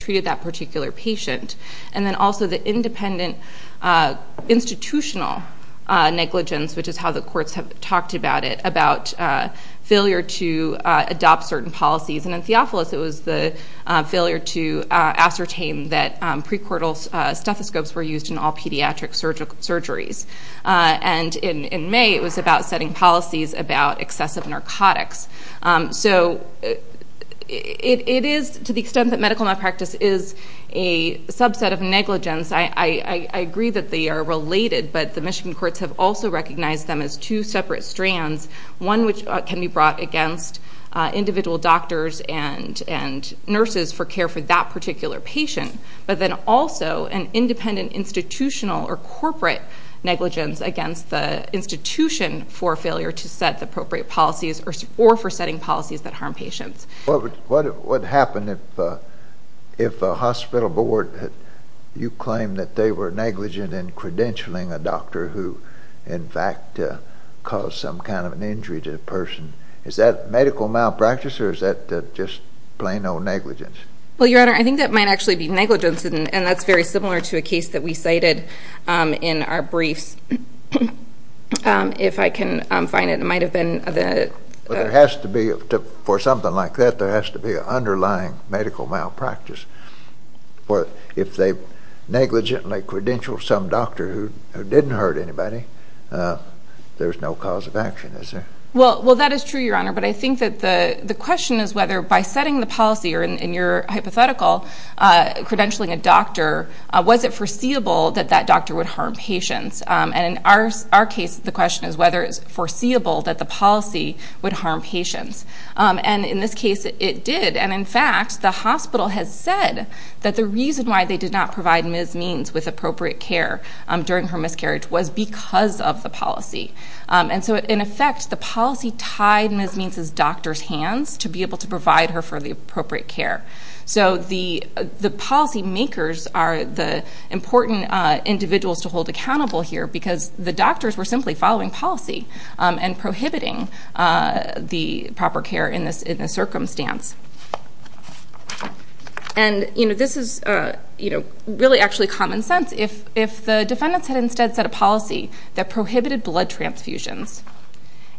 treated that particular patient, and then also the independent institutional negligence, which is how the courts have talked about it, about failure to adopt certain policies. And in Theophilus, it was the failure to ascertain that pre-cortal stethoscopes were used in all pediatric surgeries. And in May, it was about setting policies about excessive narcotics. So it is, to the extent that medical malpractice is a subset of negligence, I agree that they are related, but the Michigan courts have also recognized them as two separate strands, one which can be brought against individual doctors and nurses for care for that particular patient, but then also an independent institutional or corporate negligence against the institution for failure to set the appropriate policies or for setting policies that harm patients. What would happen if a hospital board, you claim that they were negligent in credentialing a doctor who in fact caused some kind of an injury to the person? Is that medical malpractice or is that just plain old negligence? Well, Your Honor, I think that might actually be negligence, and that's very similar to a case that we cited in our briefs. If I can find it, it might have been the... But there has to be, for something like that, there has to be an underlying medical malpractice. If they negligently credentialed some doctor who didn't hurt anybody, there's no cause of action, is there? Well, that is true, Your Honor, but I think that the question is whether by setting the policy, or in your hypothetical, credentialing a doctor, was it foreseeable that that doctor would harm patients? And in our case, the question is whether it's foreseeable that the policy would harm patients. And in this case, it did. And in fact, the hospital has said that the reason why they did not provide Ms. Means with appropriate care during her miscarriage was because of the policy. And so in effect, the policy tied Ms. Means' doctor's hands to be able to provide her for the appropriate care. So the policy makers are the important individuals to hold accountable here because the doctors were simply following policy and prohibiting the proper care in this circumstance. And this is really actually common sense. If the defendants had instead set a policy that prohibited blood transfusions,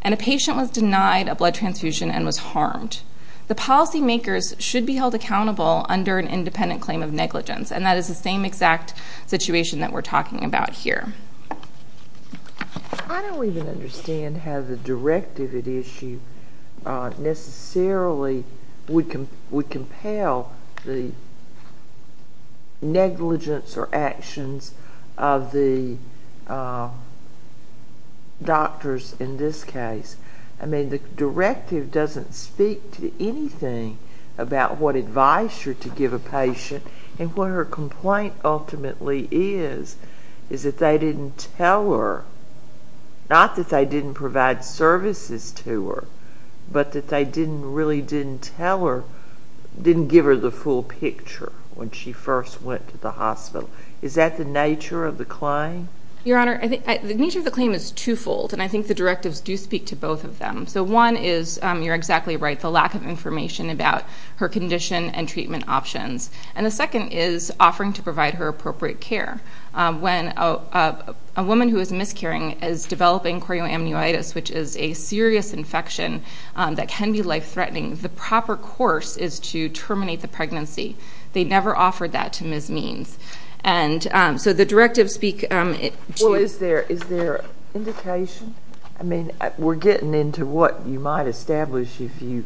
and a patient was denied a blood transfusion and was harmed, the policy makers should be held accountable under an independent claim of negligence. And that is the same exact situation that we're talking about here. I don't even understand how the directive at issue necessarily would compel the negligence or actions of the doctors in this case. I mean, the directive doesn't speak to anything about what advice you're to give a patient and what her complaint ultimately is, is that they didn't tell her, not that they didn't provide services to her, but that they didn't really didn't tell her, didn't give her the full picture when she first went to the hospital. Is that the nature of the claim? Your Honor, I think the nature of the claim is twofold. And I think the directives do speak to both of them. So one is, you're exactly right, the lack of information about her condition and treatment options. And the second is offering to provide her appropriate care. When a woman who is miscarrying is developing chorioamnuitis, which is a serious infection that can be life-threatening, the proper course is to terminate the pregnancy. They never offered that to Ms. Means. And so the directives speak to... Well, is there indication? I mean, we're getting into what you might establish if you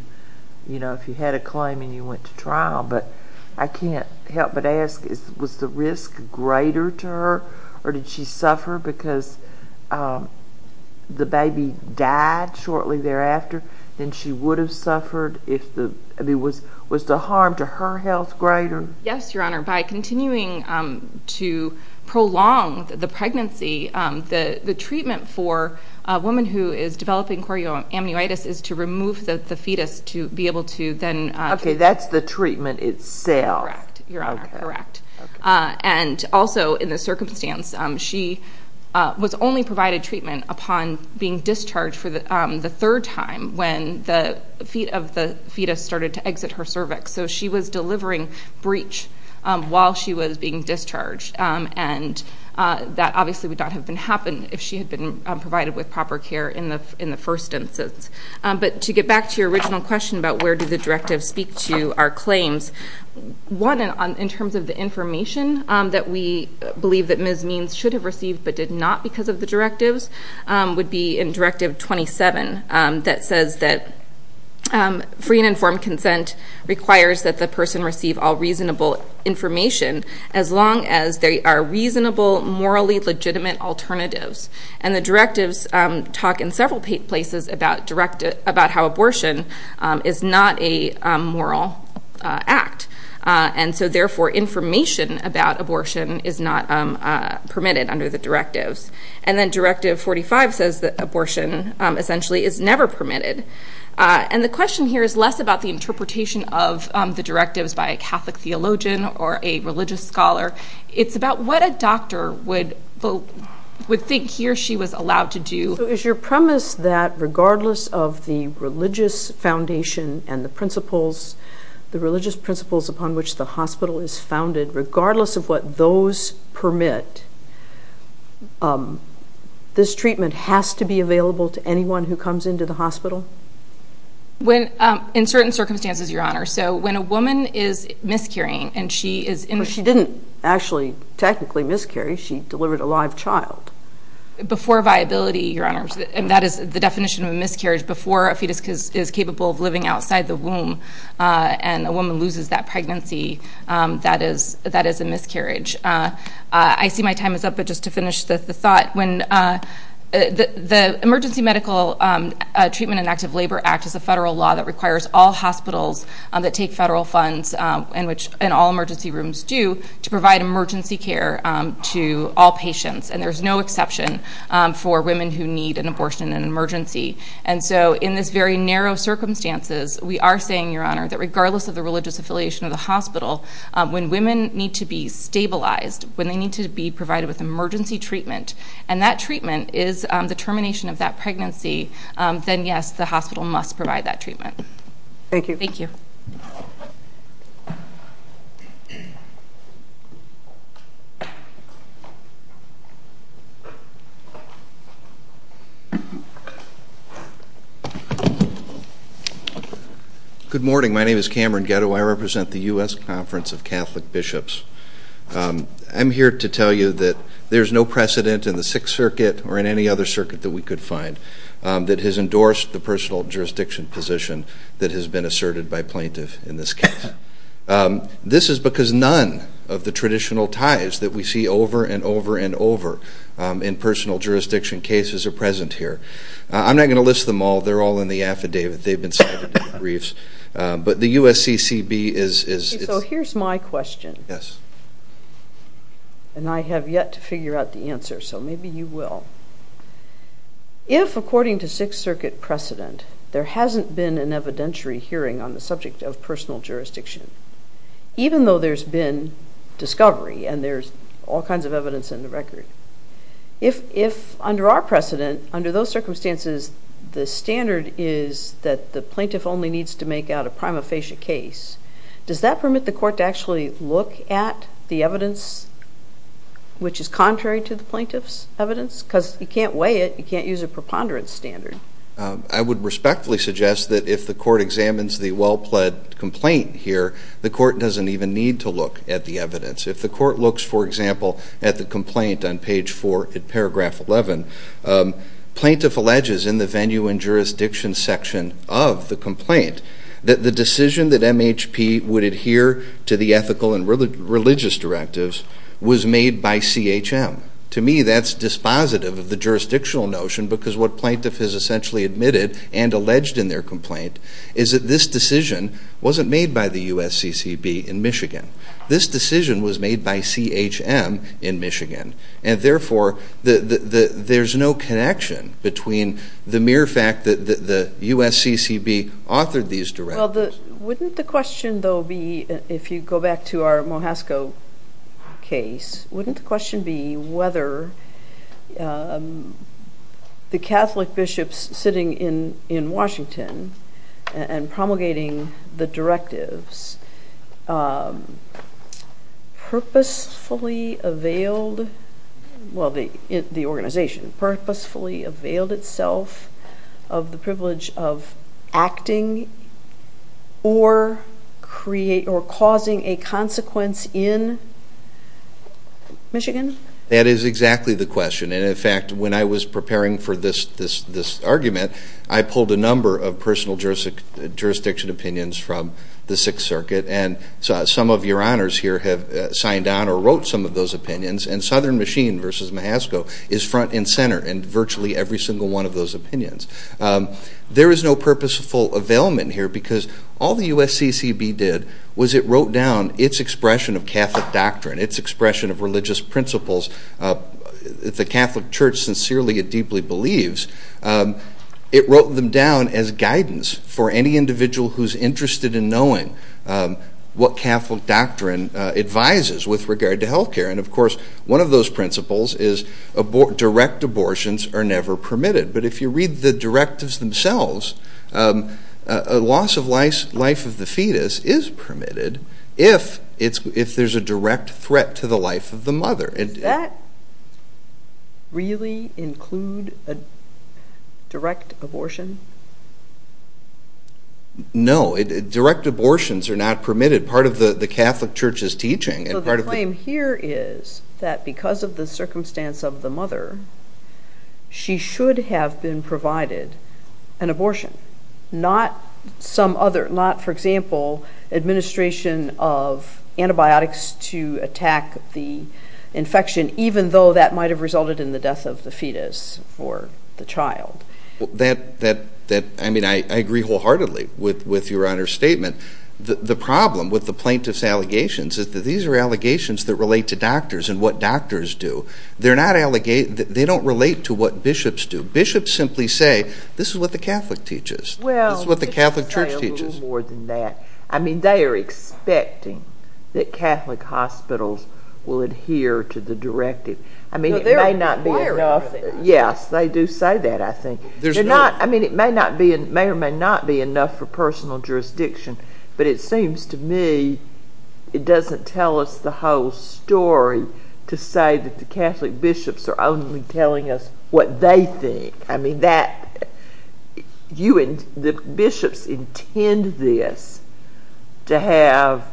had a claim and you went to trial. But I can't help but ask, was the risk greater to her or did she suffer because the baby died shortly thereafter than she would have suffered? I mean, was the harm to her health greater? Yes, Your Honor. By continuing to prolong the pregnancy, the treatment for a woman who is developing chorioamnuitis is to remove the fetus to be able to then... Okay, that's the treatment itself. Correct, Your Honor. Correct. And also in this circumstance, she was only provided treatment upon being discharged for the third time when the feet of the fetus started to exit her cervix. So she was delivering breach while she was being discharged. And that obviously would not have been happened if she had been provided with proper care in the first instance. But to get back to your original question about where do the directives speak to our claims, one in terms of the information that we believe that Ms. Means should have received but did not because of the directives would be in Directive 27 that says that free and informed consent requires that the person receive all reasonable information as long as they are reasonable, morally legitimate alternatives. And the directives talk in several places about how abortion is not a moral act. And so therefore, information about abortion is not permitted under the directives. And then Directive 45 says that abortion essentially is never permitted. And the question here is less about the interpretation of the directives by a Catholic theologian or a religious scholar. It's about what a doctor would think he or she was allowed to do. So is your premise that regardless of the religious foundation and the principles, the religious principles upon which the hospital is founded, regardless of what those permit, this treatment has to be available to anyone who comes into the hospital? In certain circumstances, Your Honor. So when a woman is miscarrying and she is in... But she didn't actually technically miscarry. She delivered a live child. Before viability, Your Honor, and that is the definition of miscarriage. Before a fetus is capable of living outside the womb and a woman loses that pregnancy, that is a miscarriage. I see my time is up, but just to finish the thought. When the Emergency Medical Treatment and Active Labor Act is a federal law that requires all hospitals that take federal funds, and all emergency rooms do, to provide emergency care to all patients. And there's no exception for women who need an abortion in an emergency. Regardless of the religious affiliation of the hospital, when women need to be stabilized, when they need to be provided with emergency treatment, and that treatment is the termination of that pregnancy, then yes, the hospital must provide that treatment. Thank you. Thank you. Good morning. My name is Cameron Ghetto. I represent the U.S. Conference of Catholic Bishops. I'm here to tell you that there's no precedent in the Sixth Circuit or in any other circuit that we could find that has endorsed the personal jurisdiction position that has been asserted by plaintiff in this case. This is because none of the traditional ties that we see over and over and over in personal jurisdiction cases are present here. I'm not going to list them all. They're all in the affidavit. They've been cited in briefs. But the USCCB is... So here's my question. Yes. And I have yet to figure out the answer, so maybe you will. If, according to Sixth Circuit precedent, there hasn't been an evidentiary hearing on the subject of personal jurisdiction, even though there's been discovery and there's all kinds of evidence in the record, if under our precedent, under those circumstances, the standard is that the plaintiff only needs to make out a prima facie case, does that permit the court to actually look at the evidence which is contrary to the plaintiff's evidence? Because you can't weigh it. You can't use a preponderance standard. I would respectfully suggest that if the court examines the well-pled complaint here, the court doesn't even need to look at the evidence. If the court looks, for example, at the complaint on page 4 in paragraph 11, plaintiff alleges in the venue and jurisdiction section of the complaint that the decision that MHP would adhere to the ethical and religious directives was made by CHM. To me, that's dispositive of the jurisdictional notion because what plaintiff has essentially admitted and alleged in their complaint is that this decision wasn't made by the USCCB in Michigan. This decision was made by CHM in Michigan, and therefore, there's no connection between the mere fact that the USCCB authored these directives. Wouldn't the question, though, be, if you go back to our Mohasco case, wouldn't the question be whether the Catholic bishops sitting in Washington and promulgating the directives purposefully availed, well, the organization, purposefully availed itself of the privilege of acting or causing a consequence in Michigan? That is exactly the question, and in fact, when I was preparing for this argument, I pulled a number of personal jurisdiction opinions from the Sixth Circuit, and some of your honors here have signed on or wrote some of those opinions, and Southern Machine versus Mohasco is front and center in virtually every single one of those opinions. There is no purposeful availment here because all the USCCB did was it wrote down its expression of Catholic doctrine, its expression of religious principles. If the Catholic Church sincerely and deeply believes, it wrote them down as guidance for any individual who's interested in knowing what Catholic doctrine advises with regard to healthcare, and of course, one of those principles is direct abortions are never permitted, but if you read the directives themselves, a loss of life of the fetus is permitted if there's a direct threat to the life of the mother. Does that really include a direct abortion? No, direct abortions are not permitted. Part of the Catholic Church's teaching, and part of the... So the claim here is that because of the circumstance of the mother, she should have been provided an abortion, not some other, not, for example, administration of antibiotics to attack the infection, even though that might have resulted in the death of the fetus or the child. That, I mean, I agree wholeheartedly with your honor's statement. The problem with the plaintiff's allegations is that these are allegations that relate to doctors and what doctors do. They're not allegating, they don't relate to what bishops do. Bishops simply say, this is what the Catholic teaches. This is what the Catholic Church teaches. Well, I would say a little more than that. I mean, they are expecting that Catholic hospitals will adhere to the directive. I mean, it may not be enough. Yes, they do say that, I think. They're not, I mean, it may or may not be enough for personal jurisdiction, but it seems to me it doesn't tell us the whole story to say that the Catholic bishops are only telling us what they think. I mean, that, you and the bishops intend this to have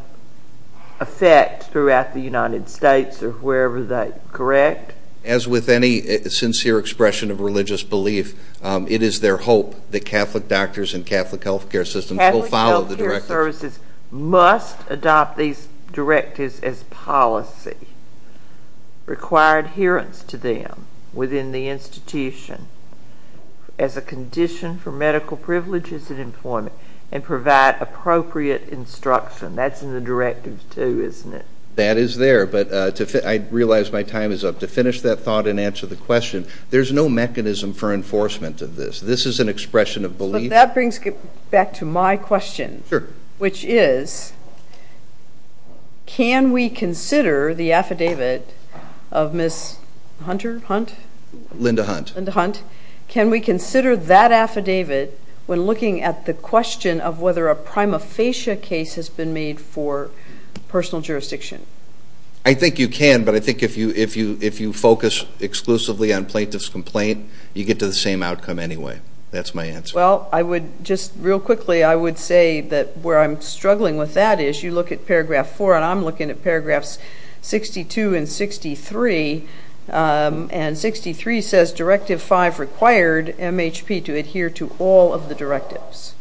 effect throughout the United States or wherever they, correct? As with any sincere expression of religious belief, it is their hope that Catholic doctors and Catholic healthcare systems will follow the directive. Catholic healthcare services must adopt these directives as policy, require adherence to them within the institution as a condition for medical privileges and employment, and provide appropriate instruction. That's in the directive too, isn't it? That is there, but I realize my time is up. To finish that thought and answer the question, there's no mechanism for enforcement of this. This is an expression of belief. That brings back to my question, which is, can we consider the affidavit of Ms. Hunter Hunt? Linda Hunt. Linda Hunt. Can we consider that affidavit when looking at the question of whether a prima facie case has been made for personal jurisdiction? I think you can, but I think if you focus exclusively on plaintiff's complaint, you get to the same outcome anyway. That's my answer. Well, I would just real quickly, I would say that where I'm struggling with that is, you look at paragraph four, and I'm looking at paragraphs 62 and 63, and 63 says directive five required MHP to adhere to all of the directives.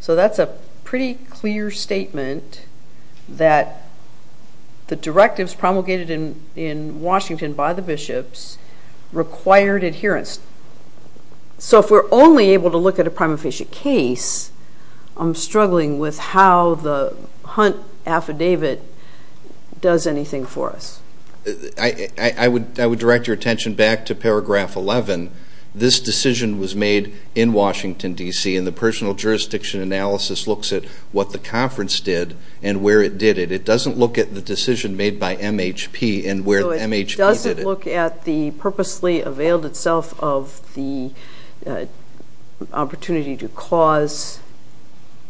So that's a pretty clear statement that the directives promulgated in Washington by the bishops required adherence. So if we're only able to look at a prima facie case, I'm struggling with how the Hunt affidavit does anything for us. I would direct your attention back to paragraph 11. This decision was made in Washington, D.C., and the personal jurisdiction analysis looks at what the conference did and where it did it. It doesn't look at the decision made by MHP and where MHP did it. It doesn't look at the purposely availed itself of the opportunity to cause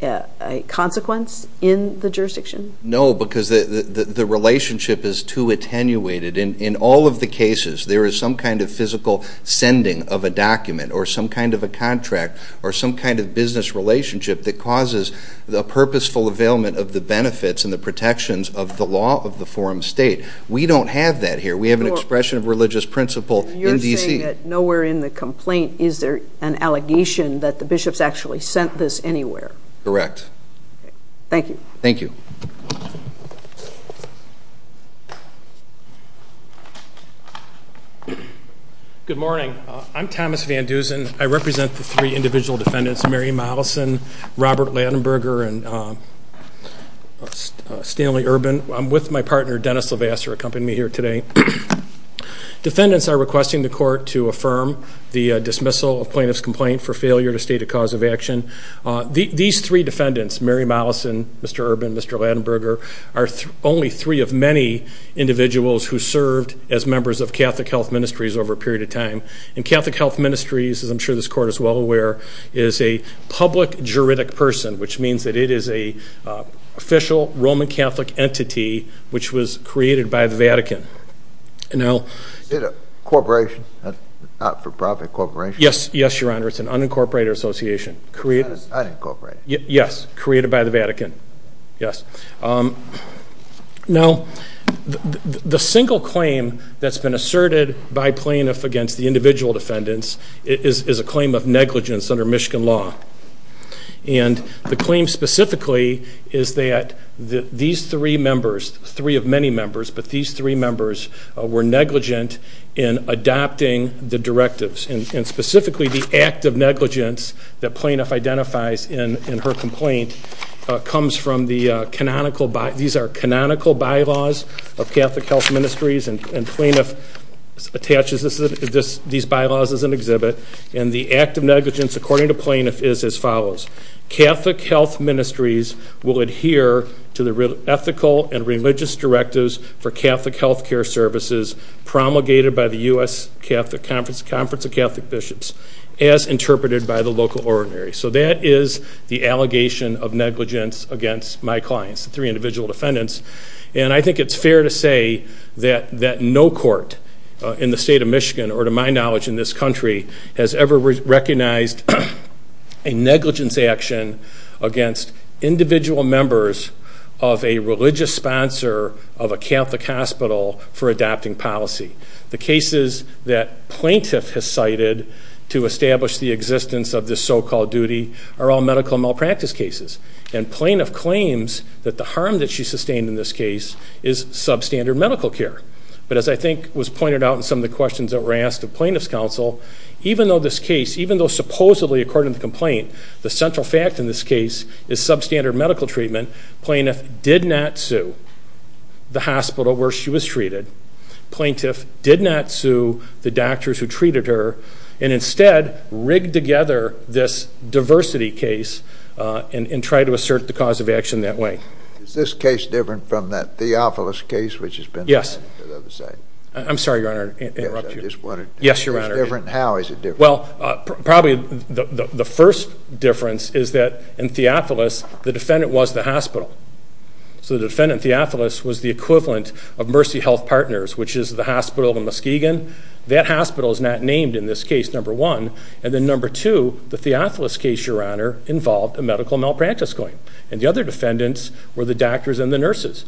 a consequence in the jurisdiction? No, because the relationship is too attenuated. In all of the cases, there is some kind of physical sending of a document or some kind of a contract or some kind of business relationship that causes a purposeful availment of the benefits and the protections of the law of the forum state. We don't have that here. We have an expression of religious principle in D.C. You're saying that nowhere in the complaint is there an allegation that the bishops actually sent this anywhere? Correct. Thank you. Thank you. Good morning. I'm Thomas Van Dusen. I represent the three individual defendants, Mary Mollison, Robert Lattenberger, and Stanley Urban. I'm with my partner, Dennis Levasseur, who accompanied me here today. Defendants are requesting the court to affirm the dismissal of plaintiff's complaint for failure to state a cause of action. These three defendants, Mary Mollison, Mr. Urban, Mr. Lattenberger, are only three of many individuals who served as members of Catholic Health Ministries over a period of time. And Catholic Health Ministries, as I'm sure this court is well aware, is a public juridic person, which means that it is an official Roman Catholic entity, which was created by the Vatican. Is it a corporation? A not-for-profit corporation? Yes, Your Honor. It's an unincorporated association. Unincorporated? Yes. Created by the Vatican. Yes. Now, the single claim that's been asserted by plaintiff against the individual defendants is a claim of negligence under Michigan law. And the claim specifically is that these three members, three of many members, but these three members were negligent in adopting the directives. And specifically, the act of negligence that plaintiff identifies in her complaint comes from the canonical, these are canonical bylaws of Catholic Health Ministries. And plaintiff attaches these bylaws as an exhibit. And the act of negligence, according to plaintiff, is as follows. Catholic Health Ministries will adhere to the ethical and religious directives for Catholic healthcare services promulgated by the U.S. Conference of Catholic Bishops as interpreted by the local ordinary. So that is the allegation of negligence against my clients, the three individual defendants. And I think it's fair to say that no court in the state of Michigan, or to my knowledge in this country, has ever recognized a negligence action against individual members of a religious sponsor of a Catholic hospital for adopting policy. The cases that plaintiff has cited to establish the existence of this so-called duty are all medical malpractice cases. And plaintiff claims that the harm that she sustained in this case is substandard medical care. But as I think was pointed out in some of the questions that were asked of plaintiff's counsel, even though this case, even though supposedly, according to the complaint, the central fact in this case is substandard medical treatment, plaintiff did not sue the hospital where she was treated. Plaintiff did not sue the doctors who treated her. And instead, rigged together this diversity case and tried to assert the cause of action that way. Is this case different from that Theophilus case which has been cited? Yes. I'm sorry, your honor, to interrupt you. Yes, your honor. How is it different? Well, probably the first difference is that in Theophilus, the defendant was the hospital. So the defendant, Theophilus, was the equivalent of Mercy Health Partners, which is the hospital in Muskegon. That hospital is not named in this case, number one. And then number two, the Theophilus case, your honor, involved a medical malpractice claim. And the other defendants were the doctors and the nurses.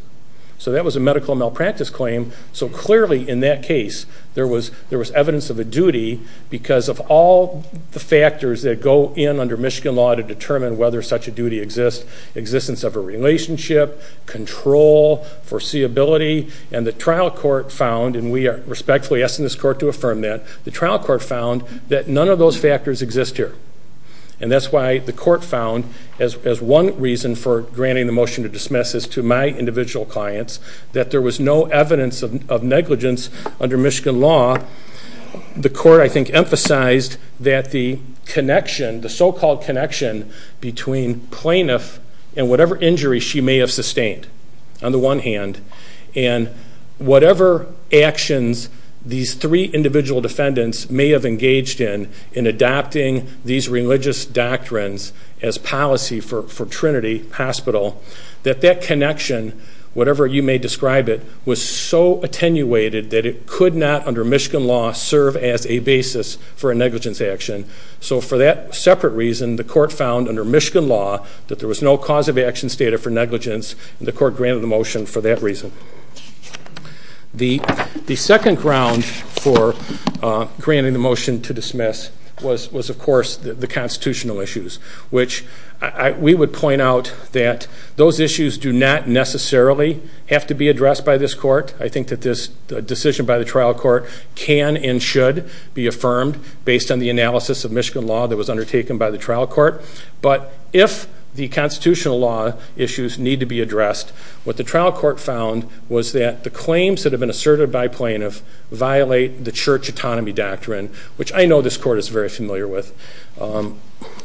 So that was a medical malpractice claim. So clearly in that case, there was evidence of a duty because of all the factors that go in under Michigan law to determine whether such a duty exists, existence of a relationship, control, foreseeability, and the trial court found, and we are respectfully asking this court to affirm that, the trial court found that none of those factors exist here. And that's why the court found, as one reason for granting the motion to dismiss this to my individual clients, that there was no evidence of negligence under Michigan law. The court, I think, emphasized that the connection, the so-called connection between plaintiff and whatever injury she may have sustained, on the one hand, and whatever actions these three individual defendants may have engaged in in adopting these religious doctrines as policy for Trinity Hospital, that that connection, whatever you may describe it, was so attenuated that it could not under Michigan law serve as a basis for a negligence action. So for that separate reason, the court found under Michigan law that there was no cause of actions stated for negligence, and the court granted the motion for that reason. The second ground for granting the motion to dismiss was, of course, the constitutional issues, which we would point out that those issues do not necessarily have to be addressed by this court. I think that this decision by the trial court can and should be affirmed based on the analysis of Michigan law that was undertaken by the trial court. But if the constitutional law issues need to be addressed, what the trial court found was that the claims that have been asserted by plaintiffs violate the church autonomy doctrine, which I know this court is very familiar with.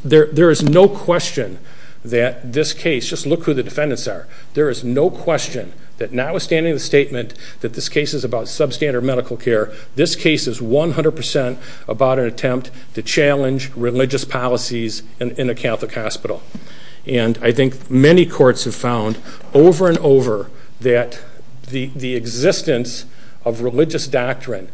There is no question that this case, just look who the defendants are, there is no question that notwithstanding the statement that this case is about substandard medical care, this case is 100% about an attempt to challenge religious policies in a Catholic hospital. And I think many courts have found over and over that the existence of religious doctrine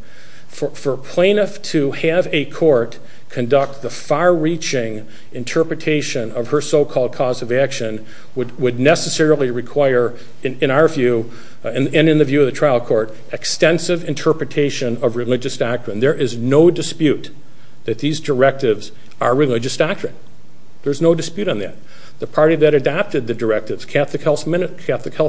for plaintiff to have a court conduct the far-reaching interpretation of her so-called cause of action would necessarily require, in our view and in the view of the trial court, extensive interpretation of religious doctrine. There is no dispute that these directives are religious doctrine. There's no dispute on that. The party that adopted the directives, Catholic Health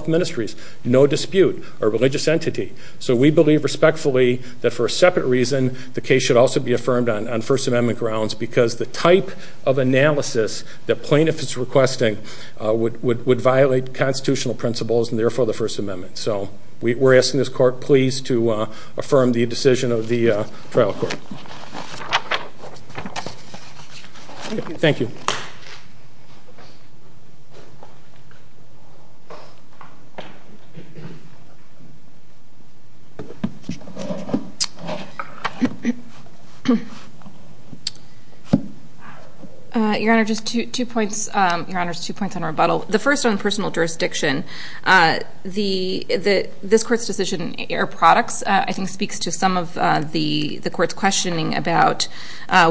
Ministries, no dispute are religious entity. So we believe respectfully that for a separate reason the case should also be affirmed on First Amendment grounds because the type of analysis that plaintiff is requesting would violate constitutional principles and therefore the First Amendment. So we're asking this court please to affirm the decision of the trial court. Thank you. Your Honor, just two points, Your Honor, just two points on rebuttal. The first on personal jurisdiction, this court's decision air products I think speaks to some of the court's questioning about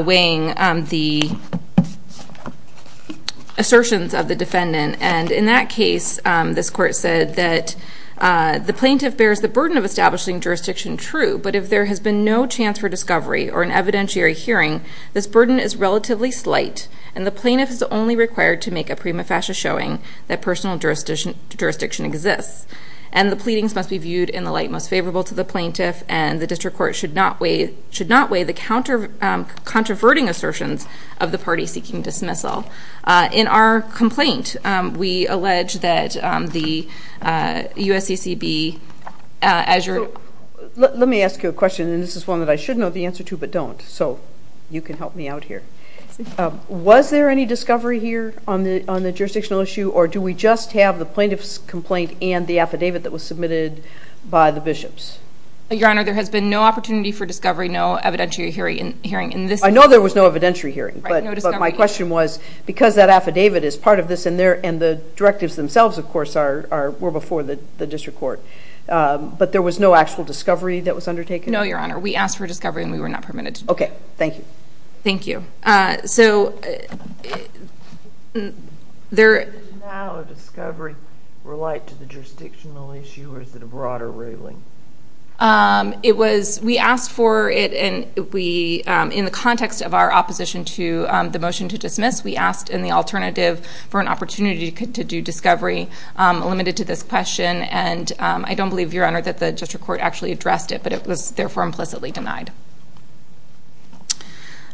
weighing the assertions of the defendant. And in that case, this court said that the plaintiff bears the burden of establishing jurisdiction true. But if there has been no chance for discovery or an evidentiary hearing, this burden is relatively slight and the plaintiff is only required to make a prima facie showing that personal jurisdiction exists. And the pleadings must be viewed in the light most favorable to the plaintiff and the district court should not weigh the counter, controverting assertions of the party seeking dismissal. In our complaint, we allege that the USCCB as your. Let me ask you a question and this is one that I should know the answer to but don't. So you can help me out here. Was there any discovery here on the jurisdictional issue or do we just have the plaintiff's complaint and the affidavit that was submitted by the bishops? Your Honor, there has been no opportunity for discovery, no evidentiary hearing. I know there was no evidentiary hearing but my question was because that affidavit is part of this and the directives themselves of course were before the district court but there was no actual discovery that was undertaken? No, Your Honor. We asked for discovery and we were not permitted to. Okay. Thank you. So there... Does now a discovery relate to the jurisdictional issue or is it a broader ruling? It was, we asked for it and we, in the context of our opposition to the motion to dismiss, we asked in the alternative for an opportunity to do discovery limited to this question and I don't believe, Your Honor, that the district court actually addressed it but it was therefore implicitly denied.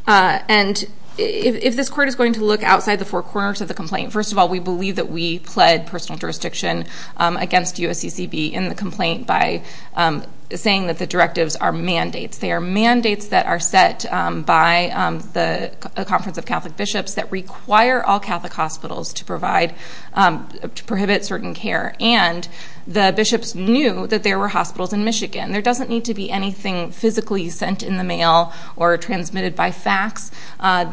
And if this court is going to look outside the four corners of the complaint, first of all, we believe that we pled personal jurisdiction against USCCB in the complaint by saying that the directives are mandates. They are mandates that are set by the Conference of Catholic Bishops that require all Catholic hospitals to provide, to prohibit certain care There doesn't need to be anything physically sent in the mail or transmitted by fax.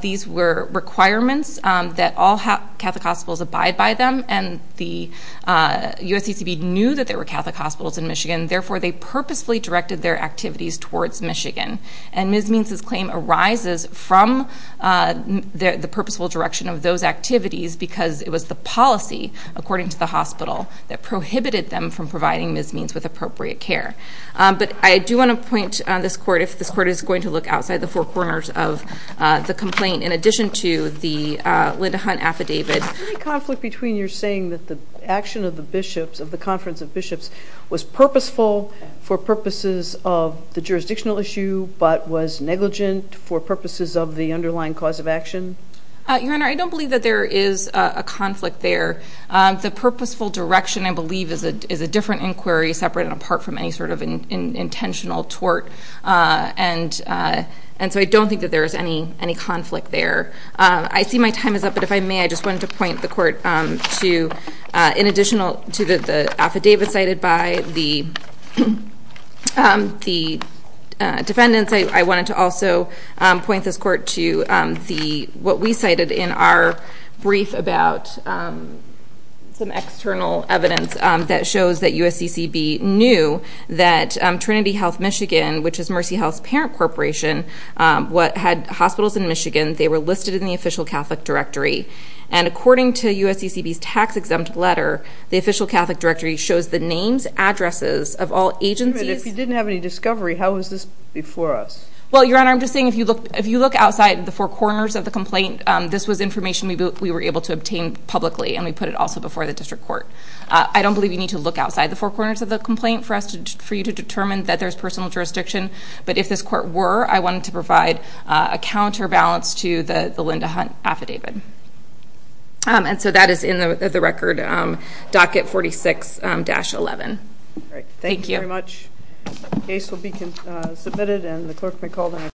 These were requirements that all Catholic hospitals abide by them and the USCCB knew that there were Catholic hospitals in Michigan, therefore they purposefully directed their activities towards Michigan. And Ms. Means' claim arises from the purposeful direction of those activities because it was the policy, according to the hospital, that prohibited them from providing Ms. Means with appropriate care. But I do want to point on this court, if this court is going to look outside the four corners of the complaint, in addition to the Linda Hunt affidavit. Is there any conflict between your saying that the action of the bishops, of the Conference of Bishops, was purposeful for purposes of the jurisdictional issue but was negligent for purposes of the underlying cause of action? Your Honor, I don't believe that there is a conflict there. The purposeful direction, I believe, is a different inquiry, separate and apart from any sort of intentional tort. And so I don't think that there is any conflict there. I see my time is up, but if I may, I just wanted to point the court to, in addition to the affidavit cited by the defendants, I wanted to also point this court to what we cited in our brief about some external evidence that shows that USCCB knew that Trinity Health Michigan, which is Mercy Health's parent corporation, had hospitals in Michigan. They were listed in the official Catholic directory. And according to USCCB's tax-exempt letter, the official Catholic directory shows the names, addresses of all agencies. If you didn't have any discovery, how is this before us? Well, Your Honor, I'm just saying if you look outside the four corners of the complaint, this was information we were able to obtain publicly, and we put it also before the district court. I don't believe you need to look outside the four corners of the complaint for us, for you to determine that there's personal jurisdiction. But if this court were, I wanted to provide a counterbalance to the Linda Hunt affidavit. And so that is in the record, docket 46-11. All right. Thank you. Thank you very much. The case will be submitted, and the clerk may call the meeting.